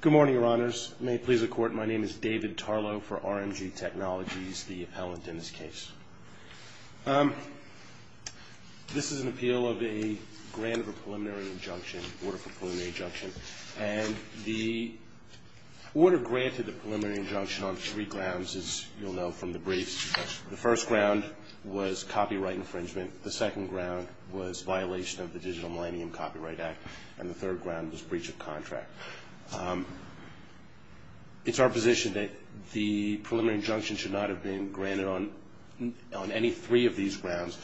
Good morning, Your Honors. May it please the Court, my name is David Tarlow for RMG Technologies, the appellant in this case. This is an appeal of a grant of a preliminary injunction, order for preliminary injunction. And the order granted a preliminary injunction on three grounds, as you'll know from the briefs. The first ground was copyright infringement, the second ground was violation of the Digital Millennium Copyright Act, and the third ground was breach of contract. It's our position that the preliminary injunction should not have been granted on any three of these grounds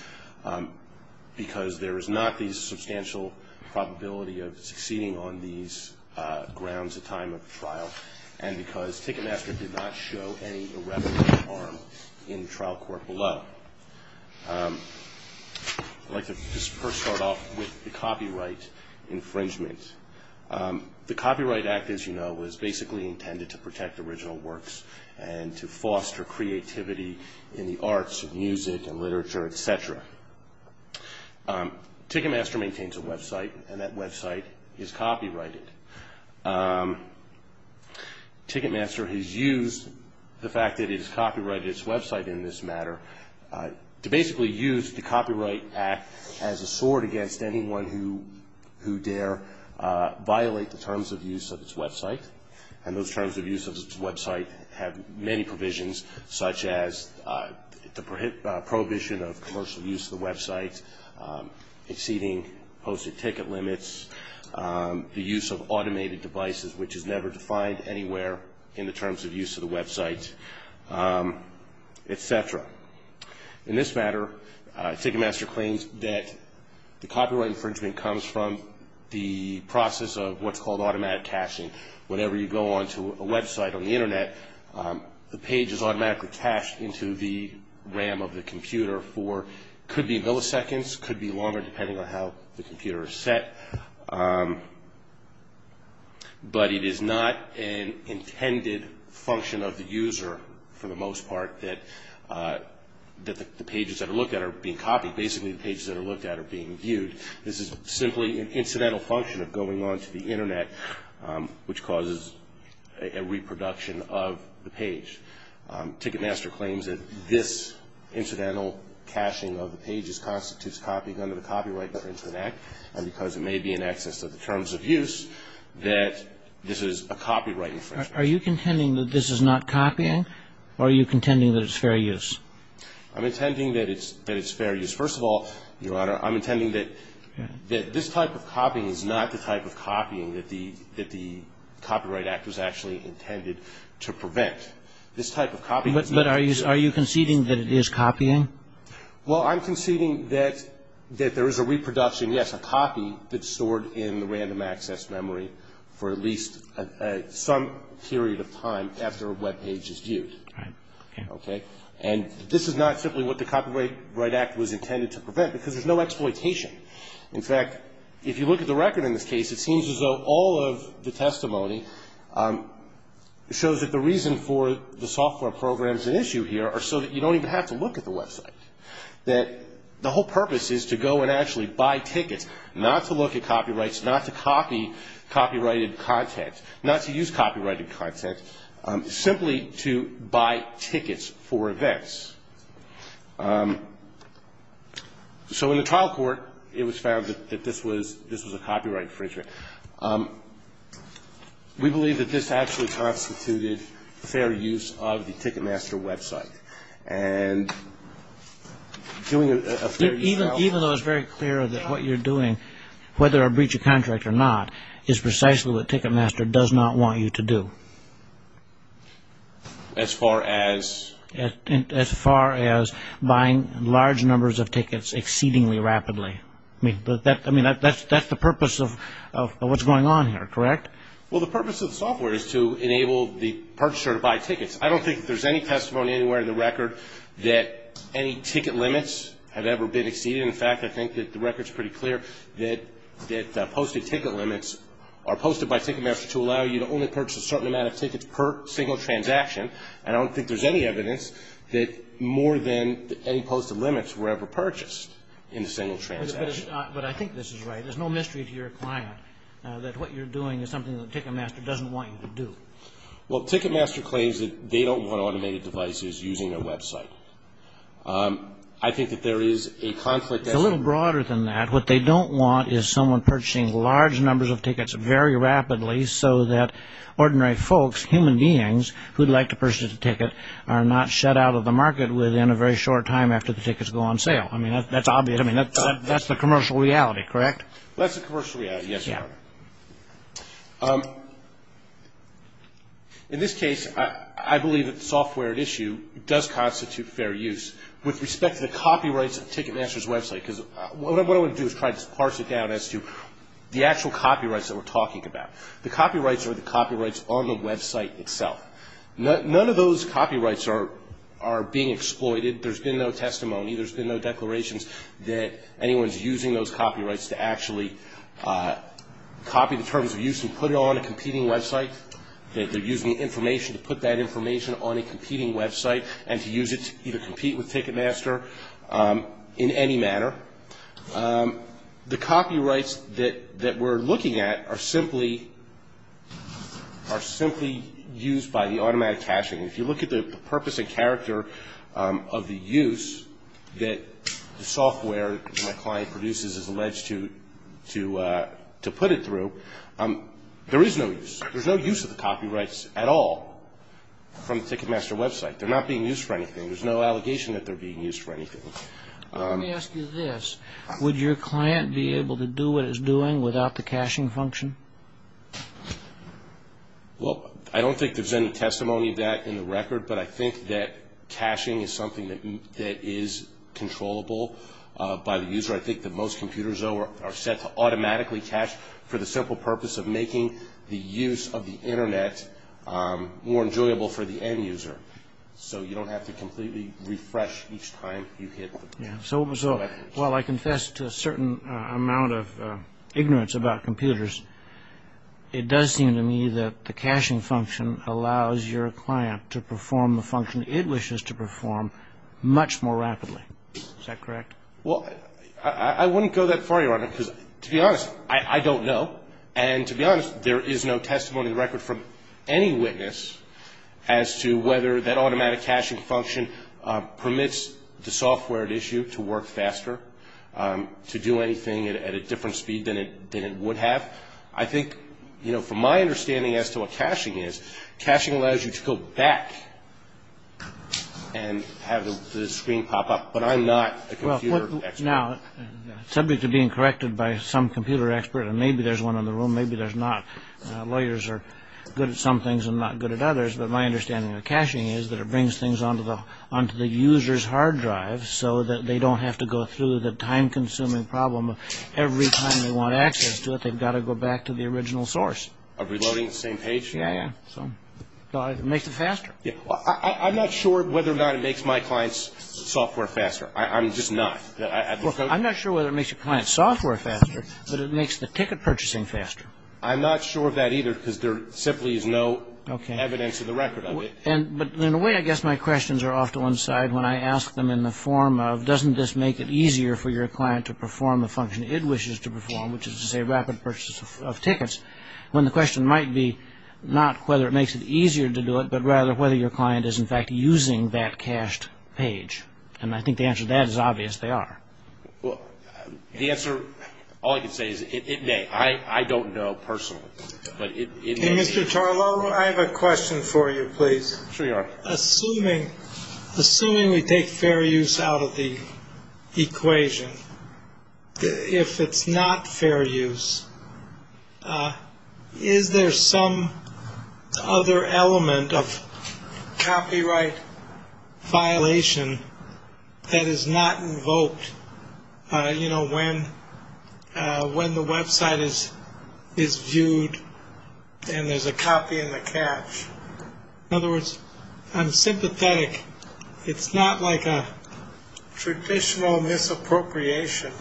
because there is not the substantial probability of succeeding on these grounds at time of trial and because Tickemaster did not show any irreparable harm in trial court below. I'd like to just first start off with the copyright infringement. The Copyright Act, as you know, was basically intended to protect original works and to foster creativity in the arts and music and literature, etc. Tickemaster maintains a website and that website is copyrighted. Tickemaster has used the fact that it has copyrighted its website in this matter to basically use the Copyright Act as a sword against anyone who dare violate the terms of use of its website. And those terms of use of its website have many provisions, such as the prohibition of commercial use of the website, exceeding posted ticket limits, the use of automated devices, which is never defined anywhere in the terms of use of the website, etc. In this matter, Tickemaster claims that the copyright infringement comes from the process of what's called automatic caching. Whenever you go onto a website on the Internet, the page is automatically cached into the RAM of the computer for, could be milliseconds, could be longer depending on how the computer is set. But it is not an intended function of the user, for the most part, that the pages that are looked at are being copied. Basically, the pages that are looked at are being viewed. This is simply an incidental function of going onto the Internet, which causes a reproduction of the page. Tickemaster claims that this incidental caching of the pages constitutes copying onto the copyright of the Internet, and because it may be in excess of the terms of use, that this is a copyright infringement. Are you contending that this is not copying, or are you contending that it's fair use? I'm intending that it's fair use. First of all, Your Honor, I'm intending that this type of copying is not the type of copying that the Copyright Act was actually intended to prevent. But are you conceding that it is copying? Well, I'm conceding that there is a reproduction, yes, a copy that's stored in the random access memory for at least some period of time after a web page is viewed. Right. Okay? And this is not simply what the Copyright Act was intended to prevent, because there's no exploitation. In fact, if you look at the record in this case, it seems as though all of the testimony shows that the reason for the software program's issue here are so that you don't even have to look at the website, that the whole purpose is to go and actually buy tickets, not to look at copyrights, not to copy copyrighted content, not to use copyrighted content, simply to buy tickets for events. So in the trial court, it was found that this was a copyright infringement. We believe that this actually constituted fair use of the Ticketmaster website. And doing a fair use of it. Even though it's very clear that what you're doing, whether a breach of contract or not, is precisely what Ticketmaster does not want you to do. As far as? As far as buying large numbers of tickets exceedingly rapidly. I mean, that's the purpose of what's going on here, correct? Well, the purpose of the software is to enable the purchaser to buy tickets. I don't think that there's any testimony anywhere in the record that any ticket limits have ever been exceeded. In fact, I think that the record's pretty clear that posted ticket limits are posted by Ticketmaster to allow you to only purchase a certain amount of tickets per single transaction. And I don't think there's any evidence that more than any posted limits were ever purchased in a single transaction. But I think this is right. There's no mystery to your client that what you're doing is something that Ticketmaster doesn't want you to do. Well, Ticketmaster claims that they don't want automated devices using their website. I think that there is a conflict. It's a little broader than that. What they don't want is someone purchasing large numbers of tickets very rapidly so that ordinary folks, human beings who'd like to purchase a ticket are not shut out of the market within a very short time after the tickets go on sale. I mean, that's obvious. I mean, that's the commercial reality, correct? That's the commercial reality, yes, Your Honor. In this case, I believe that the software at issue does constitute fair use with respect to the copyrights of Ticketmaster's website. Because what I want to do is try to parse it down as to the actual copyrights that we're talking about. The copyrights are the copyrights on the website itself. None of those copyrights are being exploited. There's been no testimony. There's been no declarations that anyone's using those copyrights to actually copy the terms of use and put it on a competing website, that they're using information to put that information on a competing website and to use it to either compete with Ticketmaster in any manner. The copyrights that we're looking at are simply used by the automatic caching. If you look at the purpose and character of the use that the software that the client produces is alleged to put it through, there is no use. There's no use of the copyrights at all from the Ticketmaster website. They're not being used for anything. There's no allegation that they're being used for anything. Let me ask you this. Would your client be able to do what it's doing without the caching function? Well, I don't think there's any testimony of that in the record, but I think that caching is something that is controllable by the user. I think that most computers are set to automatically cache for the simple purpose of making the use of the Internet more enjoyable for the end user. So you don't have to completely refresh each time you hit the button. So while I confess to a certain amount of ignorance about computers, it does seem to me that the caching function allows your client to perform the function it wishes to perform much more rapidly. Is that correct? Well, I wouldn't go that far, Your Honor, because to be honest, I don't know. And to be honest, there is no testimony in the record from any witness as to whether that automatic caching function permits the software at issue to work faster, to do anything at a different speed than it would have. I think, you know, from my understanding as to what caching is, caching allows you to go back and have the screen pop up. But I'm not a computer expert. Now, subject to being corrected by some computer expert, and maybe there's one in the room, maybe there's not. Lawyers are good at some things and not good at others. But my understanding of caching is that it brings things onto the user's hard drive so that they don't have to go through the time-consuming problem of every time they want access to it, they've got to go back to the original source. Of reloading the same page? Yeah, yeah. So it makes it faster. I'm not sure whether or not it makes my clients' software faster. I'm just not. I'm not sure whether it makes your client's software faster, but it makes the ticket purchasing faster. I'm not sure of that either because there simply is no evidence of the record of it. Okay. But in a way, I guess my questions are off to one side when I ask them in the form of, doesn't this make it easier for your client to perform the function it wishes to perform, which is to say rapid purchase of tickets, when the question might be not whether it makes it easier to do it, but rather whether your client is, in fact, using that cached page. And I think the answer to that is obvious, they are. Well, the answer, all I can say is it may. I don't know personally, but it may be. Mr. Tarlow, I have a question for you, please. Sure you are. Assuming we take fair use out of the equation, if it's not fair use, is there some other element of copyright violation that is not invoked, you know, when the website is viewed and there's a copy in the cache? In other words, I'm sympathetic. I think it's not like a traditional misappropriation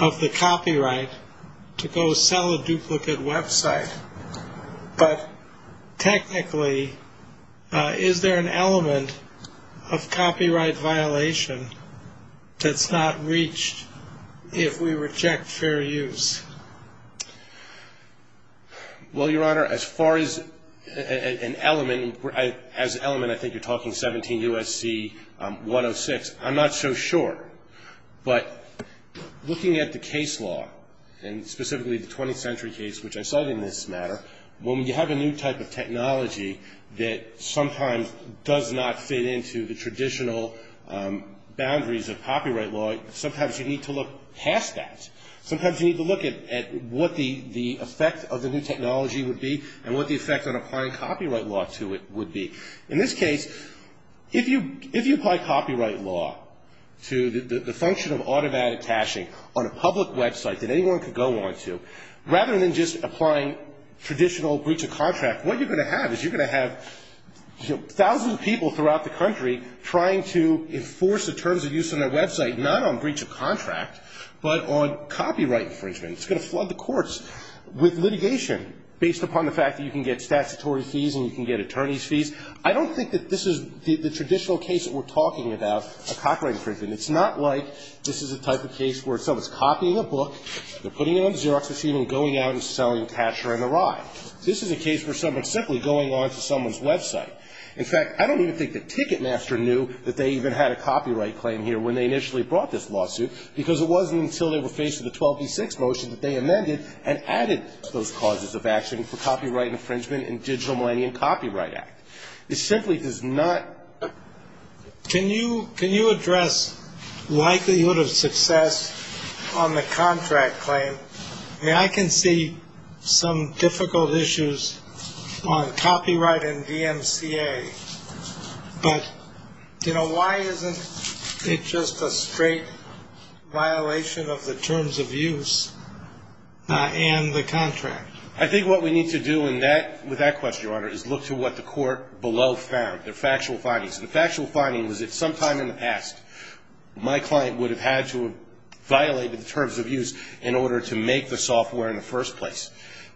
of the copyright to go sell a duplicate website. But technically, is there an element of copyright violation that's not reached if we reject fair use? Well, Your Honor, as far as an element, as an element, I think you're talking 17 U.S.C. 106. I'm not so sure. But looking at the case law, and specifically the 20th Century case, which I cited in this matter, when you have a new type of technology that sometimes does not fit into the traditional boundaries of copyright law, sometimes you need to look past that. Sometimes you need to look at what the effect of the new technology would be and what the effect on applying copyright law to it would be. In this case, if you apply copyright law to the function of automatic caching on a public website that anyone could go on to, rather than just applying traditional breach of contract, what you're going to have is you're going to have thousands of people throughout the country trying to enforce the terms of use on their website, not on breach of contract, but on copyright infringement. It's going to flood the courts with litigation based upon the fact that you can get statutory fees and you can get attorney's fees. I don't think that this is the traditional case that we're talking about, a copyright infringement. It's not like this is a type of case where someone's copying a book, they're putting it on Xerox machine and going out and selling a cacher and a rye. This is a case where someone's simply going on to someone's website. In fact, I don't even think that Ticketmaster knew that they even had a copyright claim here when they initially brought this lawsuit, because it wasn't until they were faced with a 12v6 motion that they amended and added to those causes of action for copyright infringement in Digital Millennium Copyright Act. It simply does not. Can you address likelihood of success on the contract claim? I can see some difficult issues on copyright and DMCA, but why isn't it just a straight violation of the terms of use and the contract? I think what we need to do with that question, Your Honor, is look to what the court below found, the factual findings. The factual finding was that sometime in the past, my client would have had to have violated the terms of use in order to make the software in the first place.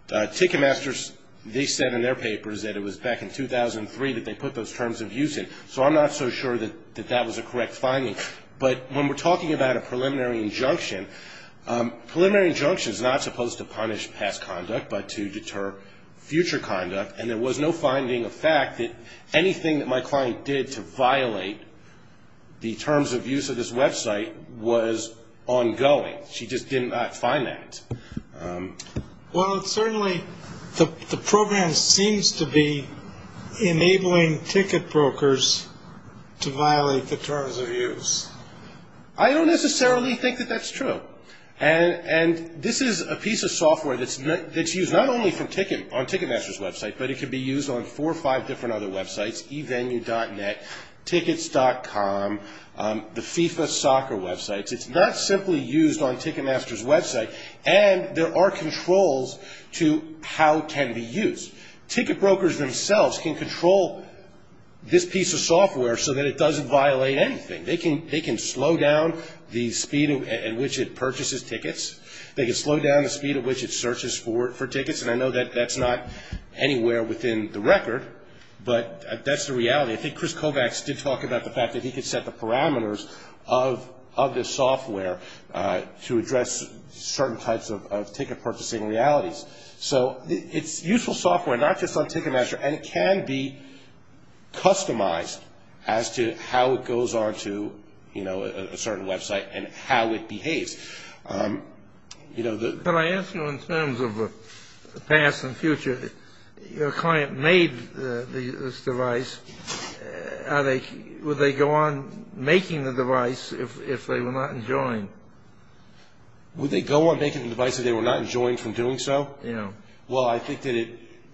Ticketmasters, they said in their papers that it was back in 2003 that they put those terms of use in, so I'm not so sure that that was a correct finding. But when we're talking about a preliminary injunction, preliminary injunction is not supposed to punish past conduct but to deter future conduct, and there was no finding of fact that anything that my client did to violate the terms of use of this website was ongoing. She just did not find that. Well, certainly the program seems to be enabling ticket brokers to violate the terms of use. I don't necessarily think that that's true, and this is a piece of software that's used not only on Ticketmasters' website, but it can be used on four or five different other websites, eVenue.net, Tickets.com, the FIFA soccer websites. It's not simply used on Ticketmasters' website, and there are controls to how it can be used. Ticket brokers themselves can control this piece of software so that it doesn't violate anything. They can slow down the speed at which it purchases tickets. They can slow down the speed at which it searches for tickets, and I know that that's not anywhere within the record, but that's the reality. I think Chris Kovacs did talk about the fact that he could set the parameters of this software to address certain types of ticket purchasing realities. So it's useful software, not just on Ticketmaster, and it can be customized as to how it goes on to a certain website and how it behaves. Can I ask you in terms of the past and future, your client made this device. Would they go on making the device if they were not enjoined? Would they go on making the device if they were not enjoined from doing so? Yeah. Well, I think that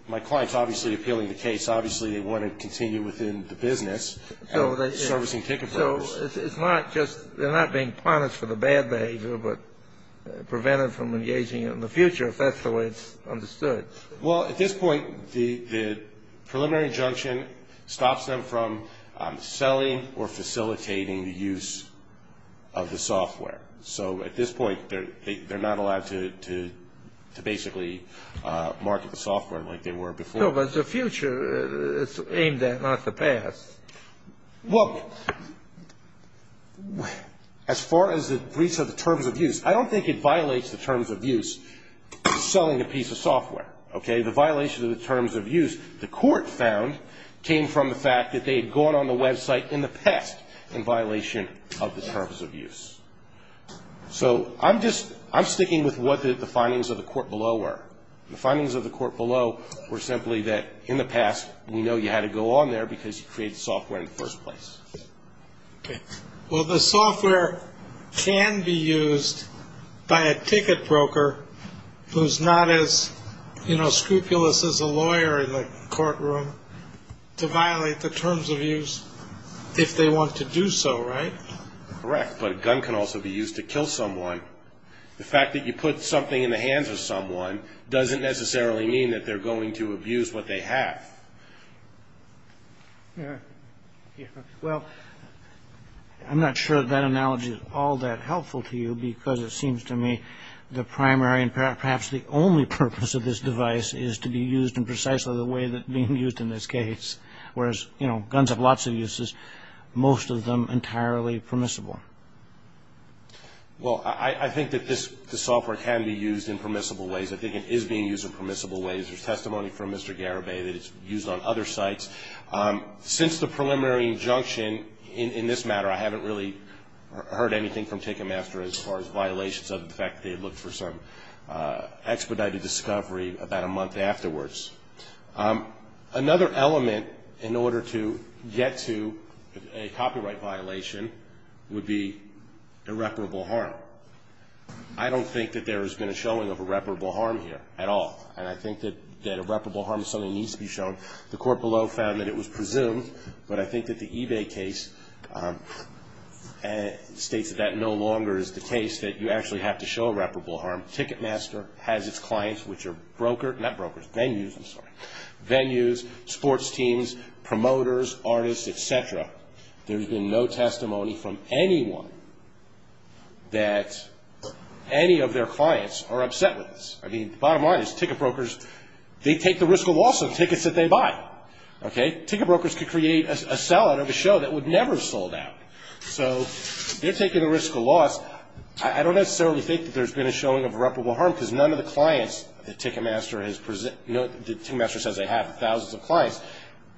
my client's obviously appealing the case. Obviously, they want to continue within the business and servicing ticket brokers. So it's not just they're not being punished for the bad behavior, but prevented from engaging in the future, if that's the way it's understood. Well, at this point, the preliminary injunction stops them from selling or facilitating the use of the software. So at this point, they're not allowed to basically market the software like they were before. No, but the future is aimed at, not the past. Well, as far as the breach of the terms of use, I don't think it violates the terms of use of selling a piece of software. Okay? The violation of the terms of use, the court found, came from the fact that they had gone on the website in the past in violation of the terms of use. So I'm just, I'm sticking with what the findings of the court below were. The findings of the court below were simply that, in the past, we know you had to go on there because you created the software in the first place. Okay. Well, the software can be used by a ticket broker who's not as, you know, scrupulous as a lawyer in the courtroom to violate the terms of use if they want to do so, right? Correct. But a gun can also be used to kill someone. The fact that you put something in the hands of someone doesn't necessarily mean that they're going to abuse what they have. Yeah. Well, I'm not sure that analogy is all that helpful to you because it seems to me the primary and perhaps the only purpose of this device is to be used in precisely the way that it's being used in this case, whereas, you know, guns have lots of uses, most of them entirely permissible. Well, I think that this software can be used in permissible ways. I think it is being used in permissible ways. There's testimony from Mr. Garibay that it's used on other sites. Since the preliminary injunction in this matter, I haven't really heard anything from Ticketmaster as far as violations, other than the fact that they looked for some expedited discovery about a month afterwards. Another element in order to get to a copyright violation would be irreparable harm. I don't think that there has been a showing of irreparable harm here at all, and I think that irreparable harm is something that needs to be shown. The court below found that it was presumed, but I think that the eBay case states that that no longer is the case, that you actually have to show irreparable harm. Ticketmaster has its clients, which are venues, sports teams, promoters, artists, et cetera. There's been no testimony from anyone that any of their clients are upset with this. I mean, bottom line is ticket brokers, they take the risk of loss of tickets that they buy. Okay? Ticket brokers could create a sellout of a show that would never have sold out. So they're taking the risk of loss. I don't necessarily think that there's been a showing of irreparable harm, because none of the clients that Ticketmaster says they have, thousands of clients,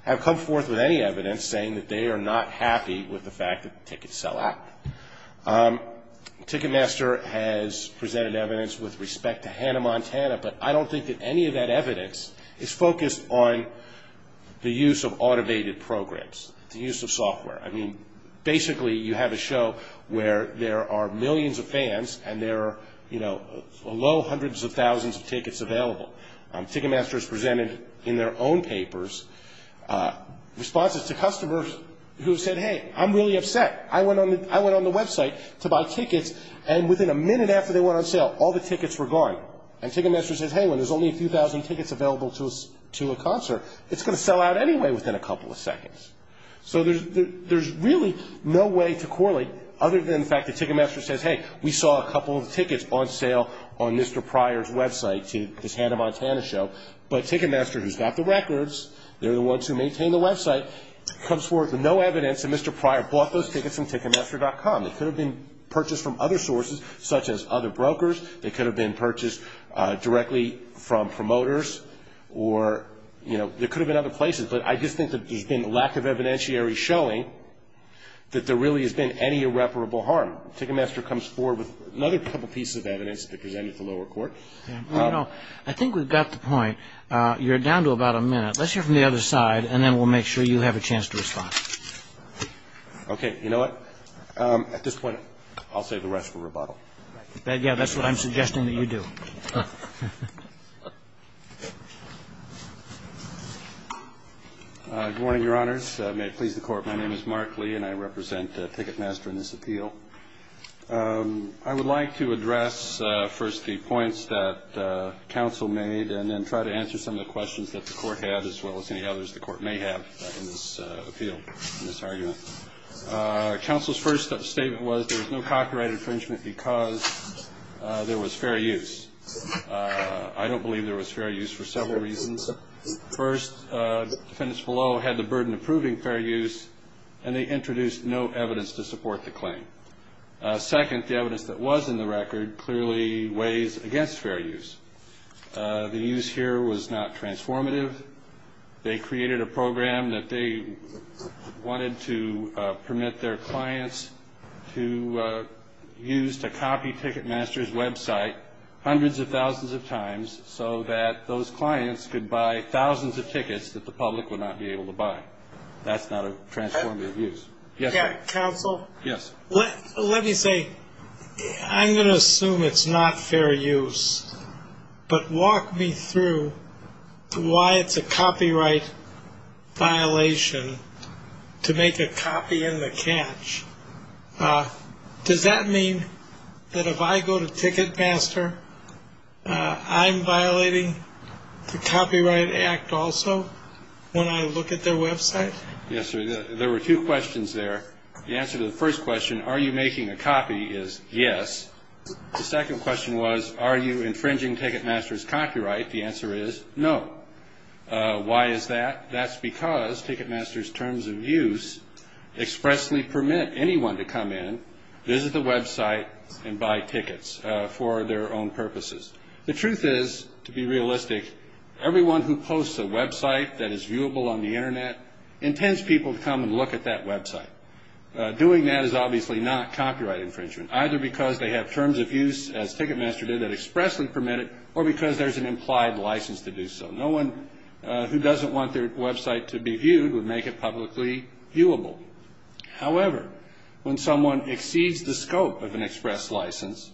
have come forth with any evidence saying that they are not happy with the fact that tickets sell out. Ticketmaster has presented evidence with respect to Hannah Montana, but I don't think that any of that evidence is focused on the use of automated programs, the use of software. I mean, basically you have a show where there are millions of fans, and there are below hundreds of thousands of tickets available. Ticketmaster has presented in their own papers responses to customers who have said, hey, I'm really upset. I went on the website to buy tickets, and within a minute after they went on sale, all the tickets were gone. And Ticketmaster says, hey, when there's only a few thousand tickets available to a concert, it's going to sell out anyway within a couple of seconds. So there's really no way to correlate other than the fact that Ticketmaster says, hey, we saw a couple of tickets on sale on Mr. Pryor's website, his Hannah Montana show, but Ticketmaster, who's got the records, they're the ones who maintain the website, comes forth with no evidence that Mr. Pryor bought those tickets from Ticketmaster.com. They could have been purchased from other sources, such as other brokers. They could have been purchased directly from promoters, or, you know, there could have been other places. But I just think that there's been a lack of evidentiary showing that there really has been any irreparable harm. Ticketmaster comes forth with another couple pieces of evidence to present at the lower court. I think we've got the point. You're down to about a minute. Let's hear from the other side, and then we'll make sure you have a chance to respond. Okay. You know what? At this point, I'll save the rest for rebuttal. Yeah, that's what I'm suggesting that you do. Good morning, Your Honors. May it please the Court. My name is Mark Lee, and I represent Ticketmaster in this appeal. I would like to address first the points that counsel made, and then try to answer some of the questions that the Court had, as well as any others the Court may have in this appeal, in this argument. Counsel's first statement was there was no copyright infringement because there was fair use. I don't believe there was fair use for several reasons. First, defendants below had the burden of proving fair use, and they introduced no evidence to support the claim. Second, the evidence that was in the record clearly weighs against fair use. The use here was not transformative. They created a program that they wanted to permit their clients to use to copy Ticketmaster's website hundreds of thousands of times so that those clients could buy thousands of tickets that the public would not be able to buy. That's not a transformative use. Counsel? Yes. Let me say, I'm going to assume it's not fair use, but walk me through why it's a copyright violation to make a copy in the catch. Does that mean that if I go to Ticketmaster, I'm violating the Copyright Act also when I look at their website? Yes, sir. There were two questions there. The answer to the first question, are you making a copy, is yes. The second question was, are you infringing Ticketmaster's copyright? The answer is no. Why is that? That's because Ticketmaster's terms of use expressly permit anyone to come in, visit the website, and buy tickets for their own purposes. The truth is, to be realistic, everyone who posts a website that is viewable on the Internet intends people to come and look at that website. Doing that is obviously not copyright infringement, either because they have terms of use, as Ticketmaster did, that expressly permit it or because there's an implied license to do so. No one who doesn't want their website to be viewed would make it publicly viewable. However, when someone exceeds the scope of an express license,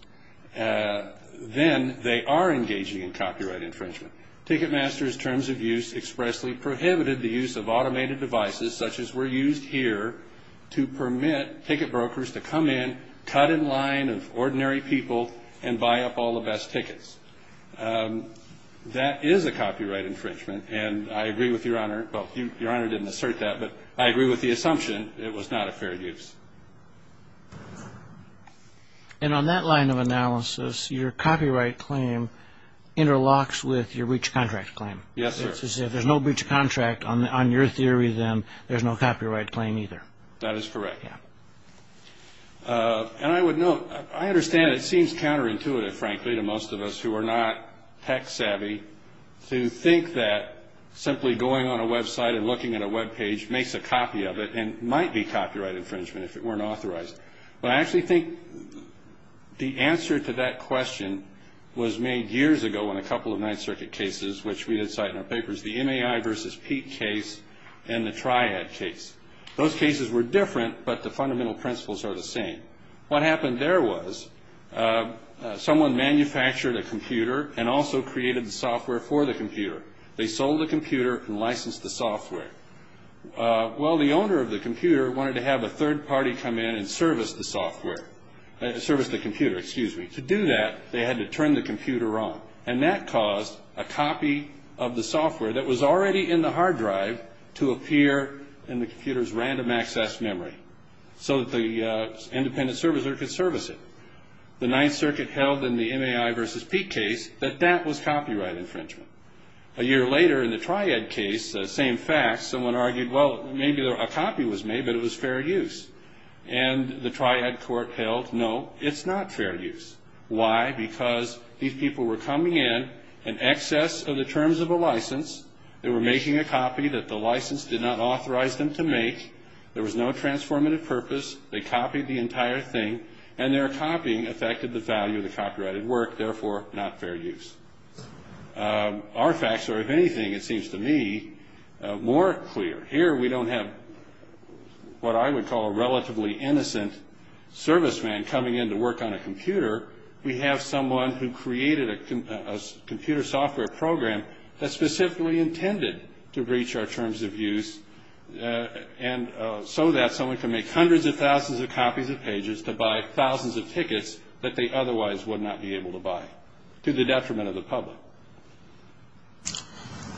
then they are engaging in copyright infringement. Ticketmaster's terms of use expressly prohibited the use of automated devices such as were used here to permit ticket brokers to come in, cut in line of ordinary people, and buy up all the best tickets. That is a copyright infringement, and I agree with Your Honor. Well, Your Honor didn't assert that, but I agree with the assumption it was not a fair use. And on that line of analysis, your copyright claim interlocks with your breach of contract claim. Yes, sir. If there's no breach of contract on your theory, then there's no copyright claim either. That is correct. And I would note, I understand it seems counterintuitive, frankly, to most of us who are not tech savvy, to think that simply going on a website and looking at a webpage makes a copy of it and might be copyright infringement if it weren't authorized. But I actually think the answer to that question was made years ago in a couple of Ninth Circuit cases, which we had cited in our papers, the MAI v. Peake case and the Triad case. Those cases were different, but the fundamental principles are the same. What happened there was someone manufactured a computer and also created the software for the computer. They sold the computer and licensed the software. Well, the owner of the computer wanted to have a third party come in and service the software, service the computer, excuse me. To do that, they had to turn the computer on, and that caused a copy of the software that was already in the hard drive to appear in the computer's random access memory so that the independent servicer could service it. The Ninth Circuit held in the MAI v. Peake case that that was copyright infringement. A year later in the Triad case, the same fact, someone argued, well, maybe a copy was made, but it was fair use. And the Triad court held, no, it's not fair use. Why? Because these people were coming in in excess of the terms of a license. They were making a copy that the license did not authorize them to make. There was no transformative purpose. They copied the entire thing, and their copying affected the value of the copyrighted work, therefore not fair use. Our facts are, if anything, it seems to me, more clear. Here we don't have what I would call a relatively innocent serviceman coming in to work on a computer. We have someone who created a computer software program that's specifically intended to breach our terms of use so that someone can make hundreds of thousands of copies of pages to buy thousands of tickets that they otherwise would not be able to buy to the detriment of the public.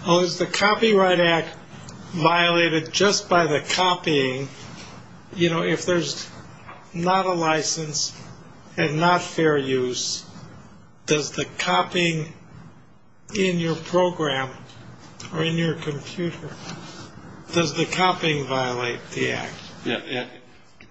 Well, is the Copyright Act violated just by the copying? You know, if there's not a license and not fair use, does the copying in your program or in your computer, does the copying violate the Act?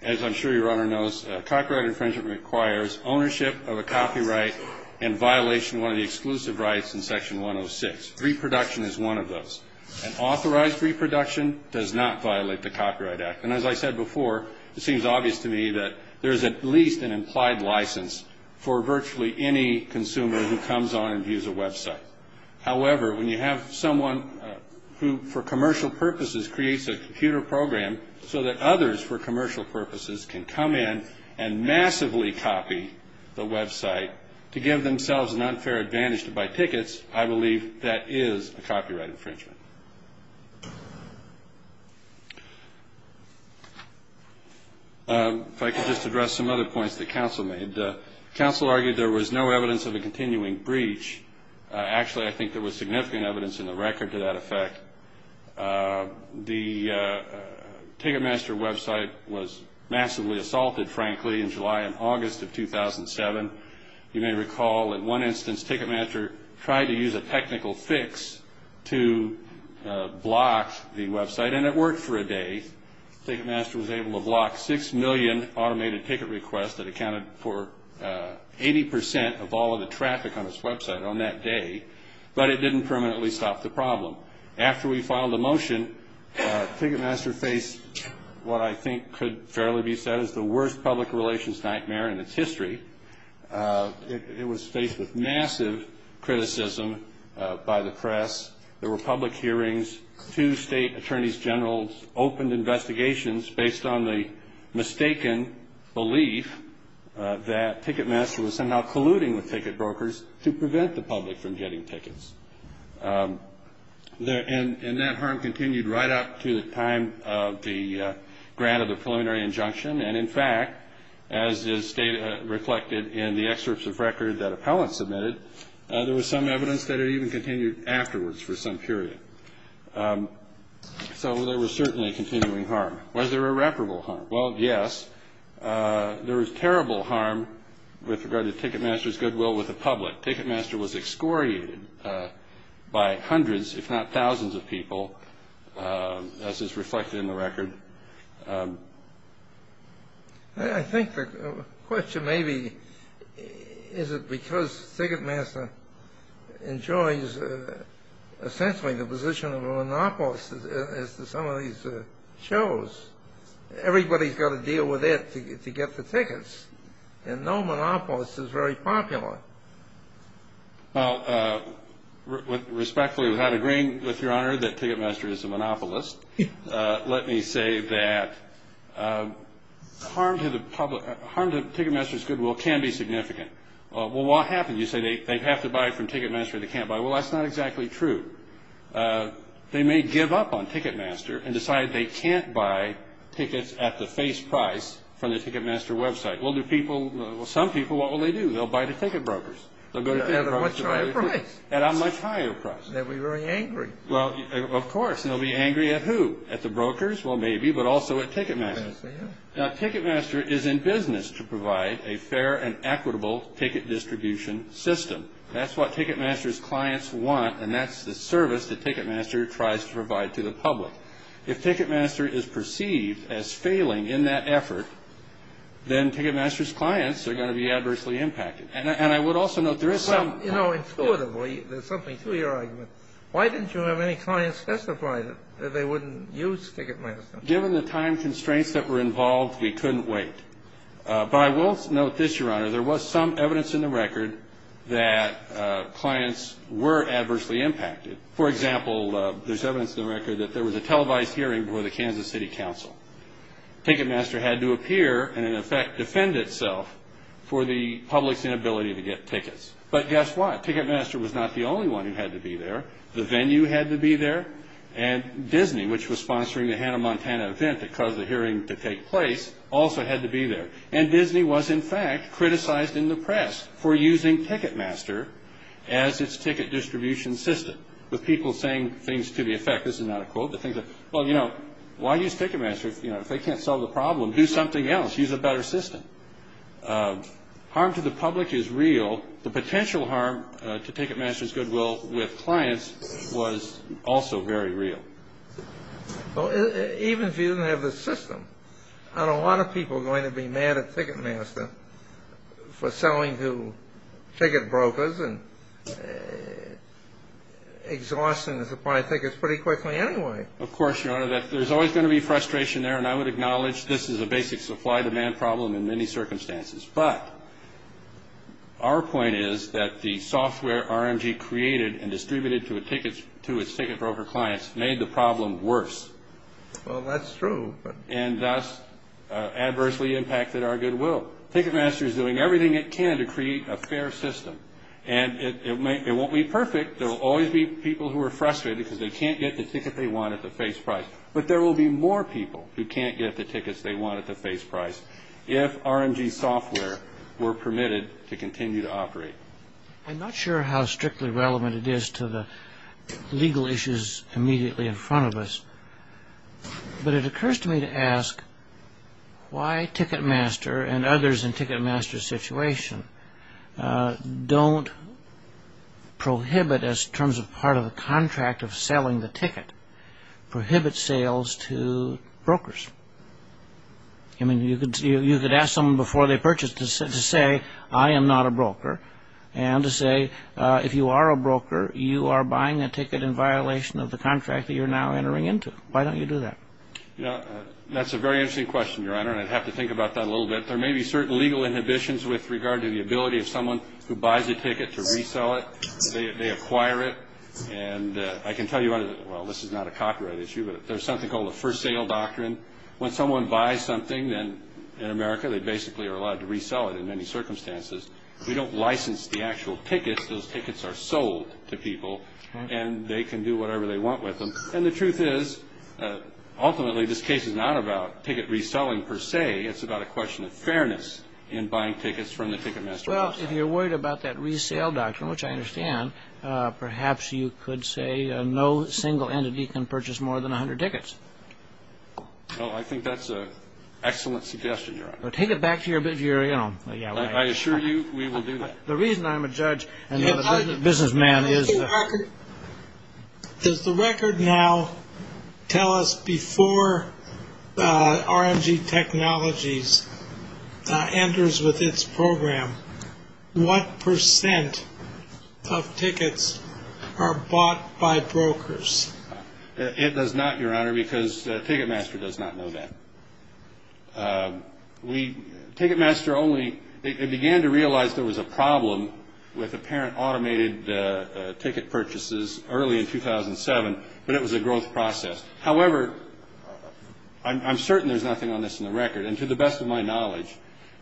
As I'm sure your Honor knows, copyright infringement requires ownership of a copyright and violation of one of the exclusive rights in Section 106. Reproduction is one of those. And authorized reproduction does not violate the Copyright Act. And as I said before, it seems obvious to me that there's at least an implied license for virtually any consumer who comes on and views a website. However, when you have someone who for commercial purposes creates a computer program so that others for commercial purposes can come in and massively copy the website to give themselves an unfair advantage to buy tickets, I believe that is a copyright infringement. If I could just address some other points that counsel made. Counsel argued there was no evidence of a continuing breach. Actually, I think there was significant evidence in the record to that effect. The Ticketmaster website was massively assaulted, frankly, in July and August of 2007. You may recall in one instance Ticketmaster tried to use a technical fix to block the website and it worked for a day. Ticketmaster was able to block 6 million automated ticket requests that accounted for 80% of all of the traffic on its website on that day, but it didn't permanently stop the problem. After we filed a motion, Ticketmaster faced what I think could fairly be said as the worst public relations nightmare in its history. It was faced with massive criticism by the press. There were public hearings. Two state attorneys generals opened investigations based on the mistaken belief that Ticketmaster was somehow colluding with ticket brokers to prevent the public from getting tickets. And that harm continued right up to the time of the grant of the preliminary injunction. And, in fact, as is reflected in the excerpts of record that appellants submitted, there was some evidence that it even continued afterwards for some period. So there was certainly continuing harm. Was there irreparable harm? Well, yes. There was terrible harm with regard to Ticketmaster's goodwill with the public. But Ticketmaster was excoriated by hundreds, if not thousands of people, as is reflected in the record. I think the question may be, is it because Ticketmaster enjoys, essentially, the position of a monopolist as some of these shows? Everybody's got to deal with it to get the tickets. And no monopolist is very popular. Well, respectfully, without agreeing with Your Honor that Ticketmaster is a monopolist, let me say that harm to Ticketmaster's goodwill can be significant. Well, what happens? You say they have to buy from Ticketmaster or they can't buy. Well, that's not exactly true. They may give up on Ticketmaster and decide they can't buy tickets at the face price from the Ticketmaster website. Well, some people, what will they do? They'll buy the ticket brokers. At a much higher price. At a much higher price. They'll be very angry. Well, of course. They'll be angry at who? At the brokers? Well, maybe, but also at Ticketmaster. Yes, they have. Now, Ticketmaster is in business to provide a fair and equitable ticket distribution system. That's what Ticketmaster's clients want, and that's the service that Ticketmaster tries to provide to the public. If Ticketmaster is perceived as failing in that effort, then Ticketmaster's clients are going to be adversely impacted. And I would also note there is some... Well, you know, intuitively, there's something to your argument. Why didn't you have any clients testify that they wouldn't use Ticketmaster? Given the time constraints that were involved, we couldn't wait. But I will note this, Your Honor. There was some evidence in the record that clients were adversely impacted. For example, there's evidence in the record that there was a televised hearing Ticketmaster had to appear and, in effect, defend itself for the public's inability to get tickets. But guess what? Ticketmaster was not the only one who had to be there. The venue had to be there, and Disney, which was sponsoring the Hannah Montana event that caused the hearing to take place, also had to be there. And Disney was, in fact, criticized in the press for using Ticketmaster as its ticket distribution system, with people saying things to the effect... This is not a quote, but things like, Well, you know, why use Ticketmaster if they can't solve the problem? Do something else. Use a better system. Harm to the public is real. The potential harm to Ticketmaster's goodwill with clients was also very real. Well, even if you didn't have the system, aren't a lot of people going to be mad at Ticketmaster for selling to ticket brokers and exhausting the supply of tickets pretty quickly anyway? Of course, Your Honor. There's always going to be frustration there, and I would acknowledge this is a basic supply-demand problem in many circumstances. But our point is that the software RMG created and distributed to its ticket broker clients made the problem worse. Well, that's true. And thus adversely impacted our goodwill. Ticketmaster is doing everything it can to create a fair system. And it won't be perfect. There will always be people who are frustrated because they can't get the ticket they want at the face price. But there will be more people who can't get the tickets they want at the face price if RMG software were permitted to continue to operate. I'm not sure how strictly relevant it is to the legal issues immediately in front of us. But it occurs to me to ask why Ticketmaster and others in Ticketmaster's situation don't prohibit us, in terms of part of the contract of selling the ticket, prohibit sales to brokers. I mean, you could ask someone before they purchase to say, I am not a broker. And to say, if you are a broker, you are buying a ticket in violation of the contract that you're now entering into. Why don't you do that? That's a very interesting question, Your Honor. And I'd have to think about that a little bit. There may be certain legal inhibitions with regard to the ability of someone who buys a ticket to resell it. They acquire it. And I can tell you, Your Honor, well, this is not a copyright issue, but there's something called the for sale doctrine. When someone buys something in America, they basically are allowed to resell it in many circumstances. We don't license the actual tickets. Those tickets are sold to people. And they can do whatever they want with them. And the truth is, ultimately, this case is not about ticket reselling per se. It's about a question of fairness in buying tickets from the Ticketmaster website. Well, if you're worried about that resale doctrine, as I understand, perhaps you could say no single entity can purchase more than 100 tickets. Well, I think that's an excellent suggestion, Your Honor. Well, take it back to your, you know... I assure you, we will do that. The reason I'm a judge and not a businessman is... Does the record now tell us before RMG Technologies enters with its program what percent of tickets are bought by brokers? It does not, Your Honor, because Ticketmaster does not know that. We... Ticketmaster only... They began to realize there was a problem with apparent automated ticket purchases early in 2007, but it was a growth process. However, I'm certain there's nothing on this in the record. And to the best of my knowledge,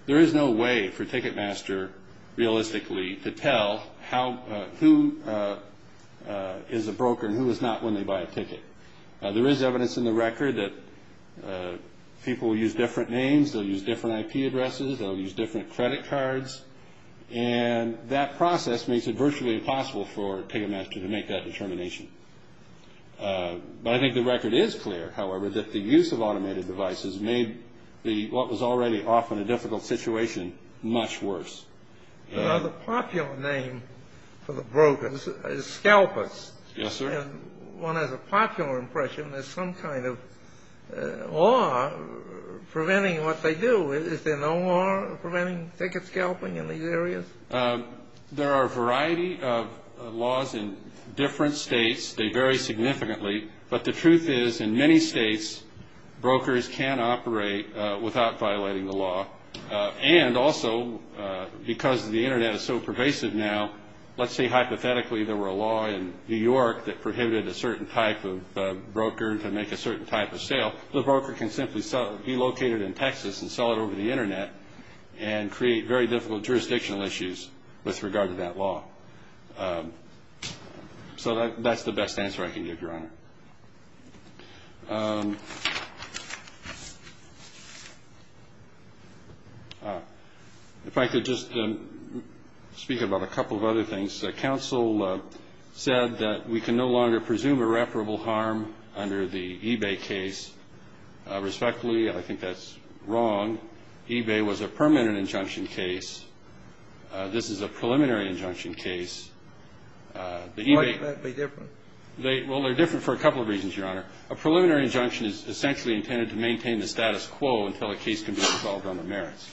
there is no way for Ticketmaster, realistically, to tell who is a broker and who is not when they buy a ticket. There is evidence in the record that people will use different names, they'll use different IP addresses, they'll use different credit cards, and that process makes it virtually impossible for Ticketmaster to make that determination. But I think the record is clear, however, that the use of automated devices has made what was already often a difficult situation much worse. The popular name for the brokers is scalpers. Yes, sir. One has a popular impression there's some kind of law preventing what they do. Is there no law preventing ticket scalping in these areas? There are a variety of laws in different states. They vary significantly. But the truth is, in many states, brokers can operate without violating the law. And also, because the Internet is so pervasive now, let's say, hypothetically, there were a law in New York that prohibited a certain type of broker to make a certain type of sale, the broker can simply be located in Texas and sell it over the Internet and create very difficult jurisdictional issues with regard to that law. So that's the best answer I can give, Your Honor. If I could just speak about a couple of other things. The counsel said that we can no longer presume irreparable harm under the eBay case. Respectfully, I think that's wrong. eBay was a permanent injunction case. This is a preliminary injunction case. The eBay... First of all, it's a permanent injunction case. For a couple of reasons, Your Honor. A preliminary injunction is essentially intended to maintain the status quo until a case can be resolved on the merits.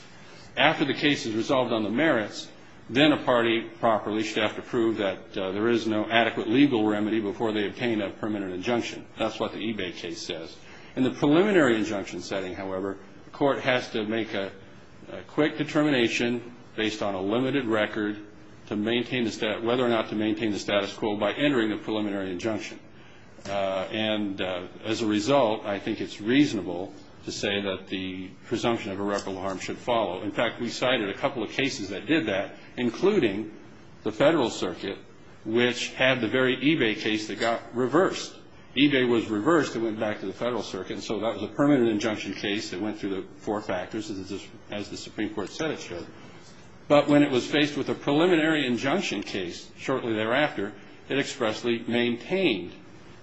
After the case is resolved on the merits, then a party, properly, should have to prove that there is no adequate legal remedy before they obtain a permanent injunction. That's what the eBay case says. In the preliminary injunction setting, however, the court has to make a quick determination based on a limited record to maintain the status... whether or not to maintain the status quo by entering a preliminary injunction. And as a result, I think it's reasonable to say that the presumption of irreparable harm should follow. In fact, we cited a couple of cases that did that, including the Federal Circuit, which had the very eBay case that got reversed. eBay was reversed. It went back to the Federal Circuit. And so that was a permanent injunction case that went through the four factors, as the Supreme Court said it should. But when it was faced with a preliminary injunction case shortly thereafter, it expressly maintained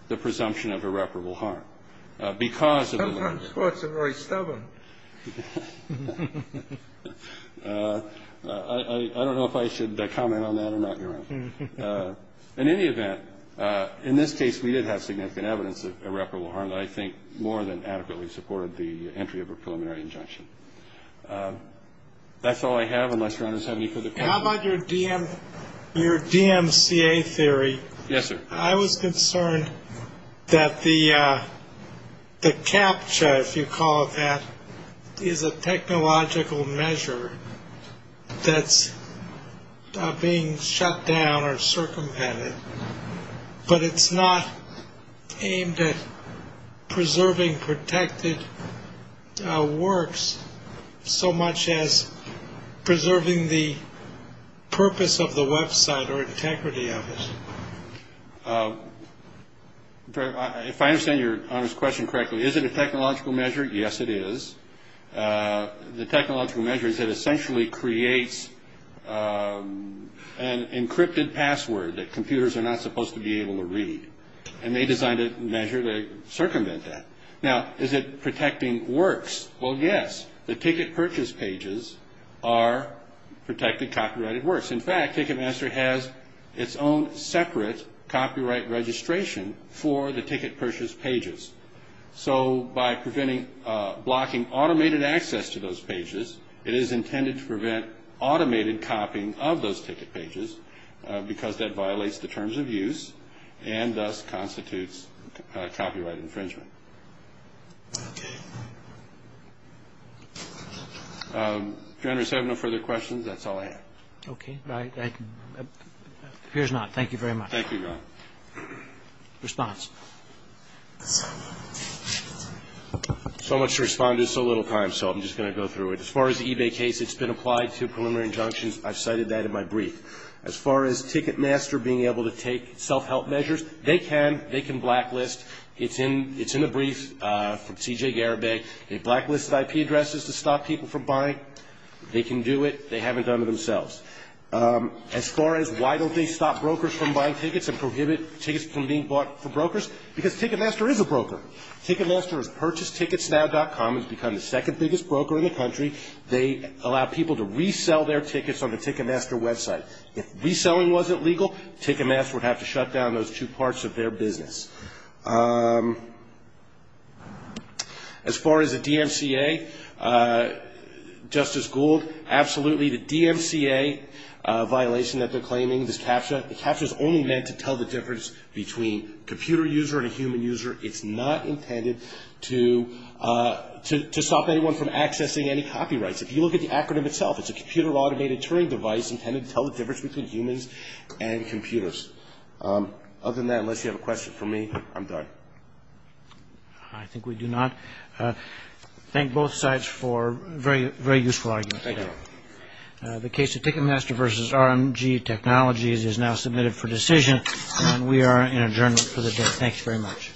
the presumption of irreparable harm because of the... Sometimes courts are very stubborn. I don't know if I should comment on that or not, Your Honor. In any event, in this case, we did have significant evidence of irreparable harm that I think more than adequately supported the entry of a preliminary injunction. That's all I have, unless Your Honor's have any further questions. How about your DMCA theory? Yes, sir. I was concerned that the CAPTCHA, if you call it that, is a technological measure that's being shut down or circumvented, but it's not aimed at preserving protected works so much as preserving the purpose of the website or integrity of it. If I understand Your Honor's question correctly, is it a technological measure? Yes, it is. The technological measure is that it essentially creates an encrypted password that computers are not supposed to be able to read. And they designed a measure to circumvent that. Now, is it protecting works? Well, yes. The ticket purchase pages are protected copyrighted works. In fact, Ticketmaster has its own separate copyright registration for the ticket purchase pages. So by preventing, blocking automated access to those pages, it is intended to prevent automated copying of those ticket pages because that violates the terms of use and thus constitutes copyright infringement. Okay. Your Honor, if you have no further questions, that's all I have. Okay. Appears not. Thank you very much. Thank you, Your Honor. Response? So much to respond to, so little time, so I'm just going to go through it. As far as the eBay case, it's been applied to preliminary injunctions. I've cited that in my brief. As far as Ticketmaster being able to take self-help measures, and as far as Ticketmaster being able to use a blacklisted IP address to stop people from buying, they can do it. They haven't done it themselves. As far as why don't they stop brokers from buying tickets and prohibit tickets from being bought for brokers, because Ticketmaster is a broker. Ticketmaster has purchased TicketsNow.com and it's become the second biggest broker in the country. They allow people to resell their tickets on the Ticketmaster website. If reselling wasn't legal, Ticketmaster would have to shut down those two parts of their business. As far as the DMCA, Justice Gould, absolutely, the DMCA violation that they're claiming, this CAPTCHA, the CAPTCHA is only meant to tell the difference between computer user and a human user. It's not intended to stop anyone from accessing any copyrights. If you look at the acronym itself, it's a Computer Automated Turing Device intended to tell the difference between humans and computers. Other than that, unless you have a question for me, I'm done. I think we do not. Thank both sides for a very useful argument today. Thank you. The case of Ticketmaster versus RMG Technologies is now submitted for decision and we are in adjournment for the day. Thank you very much.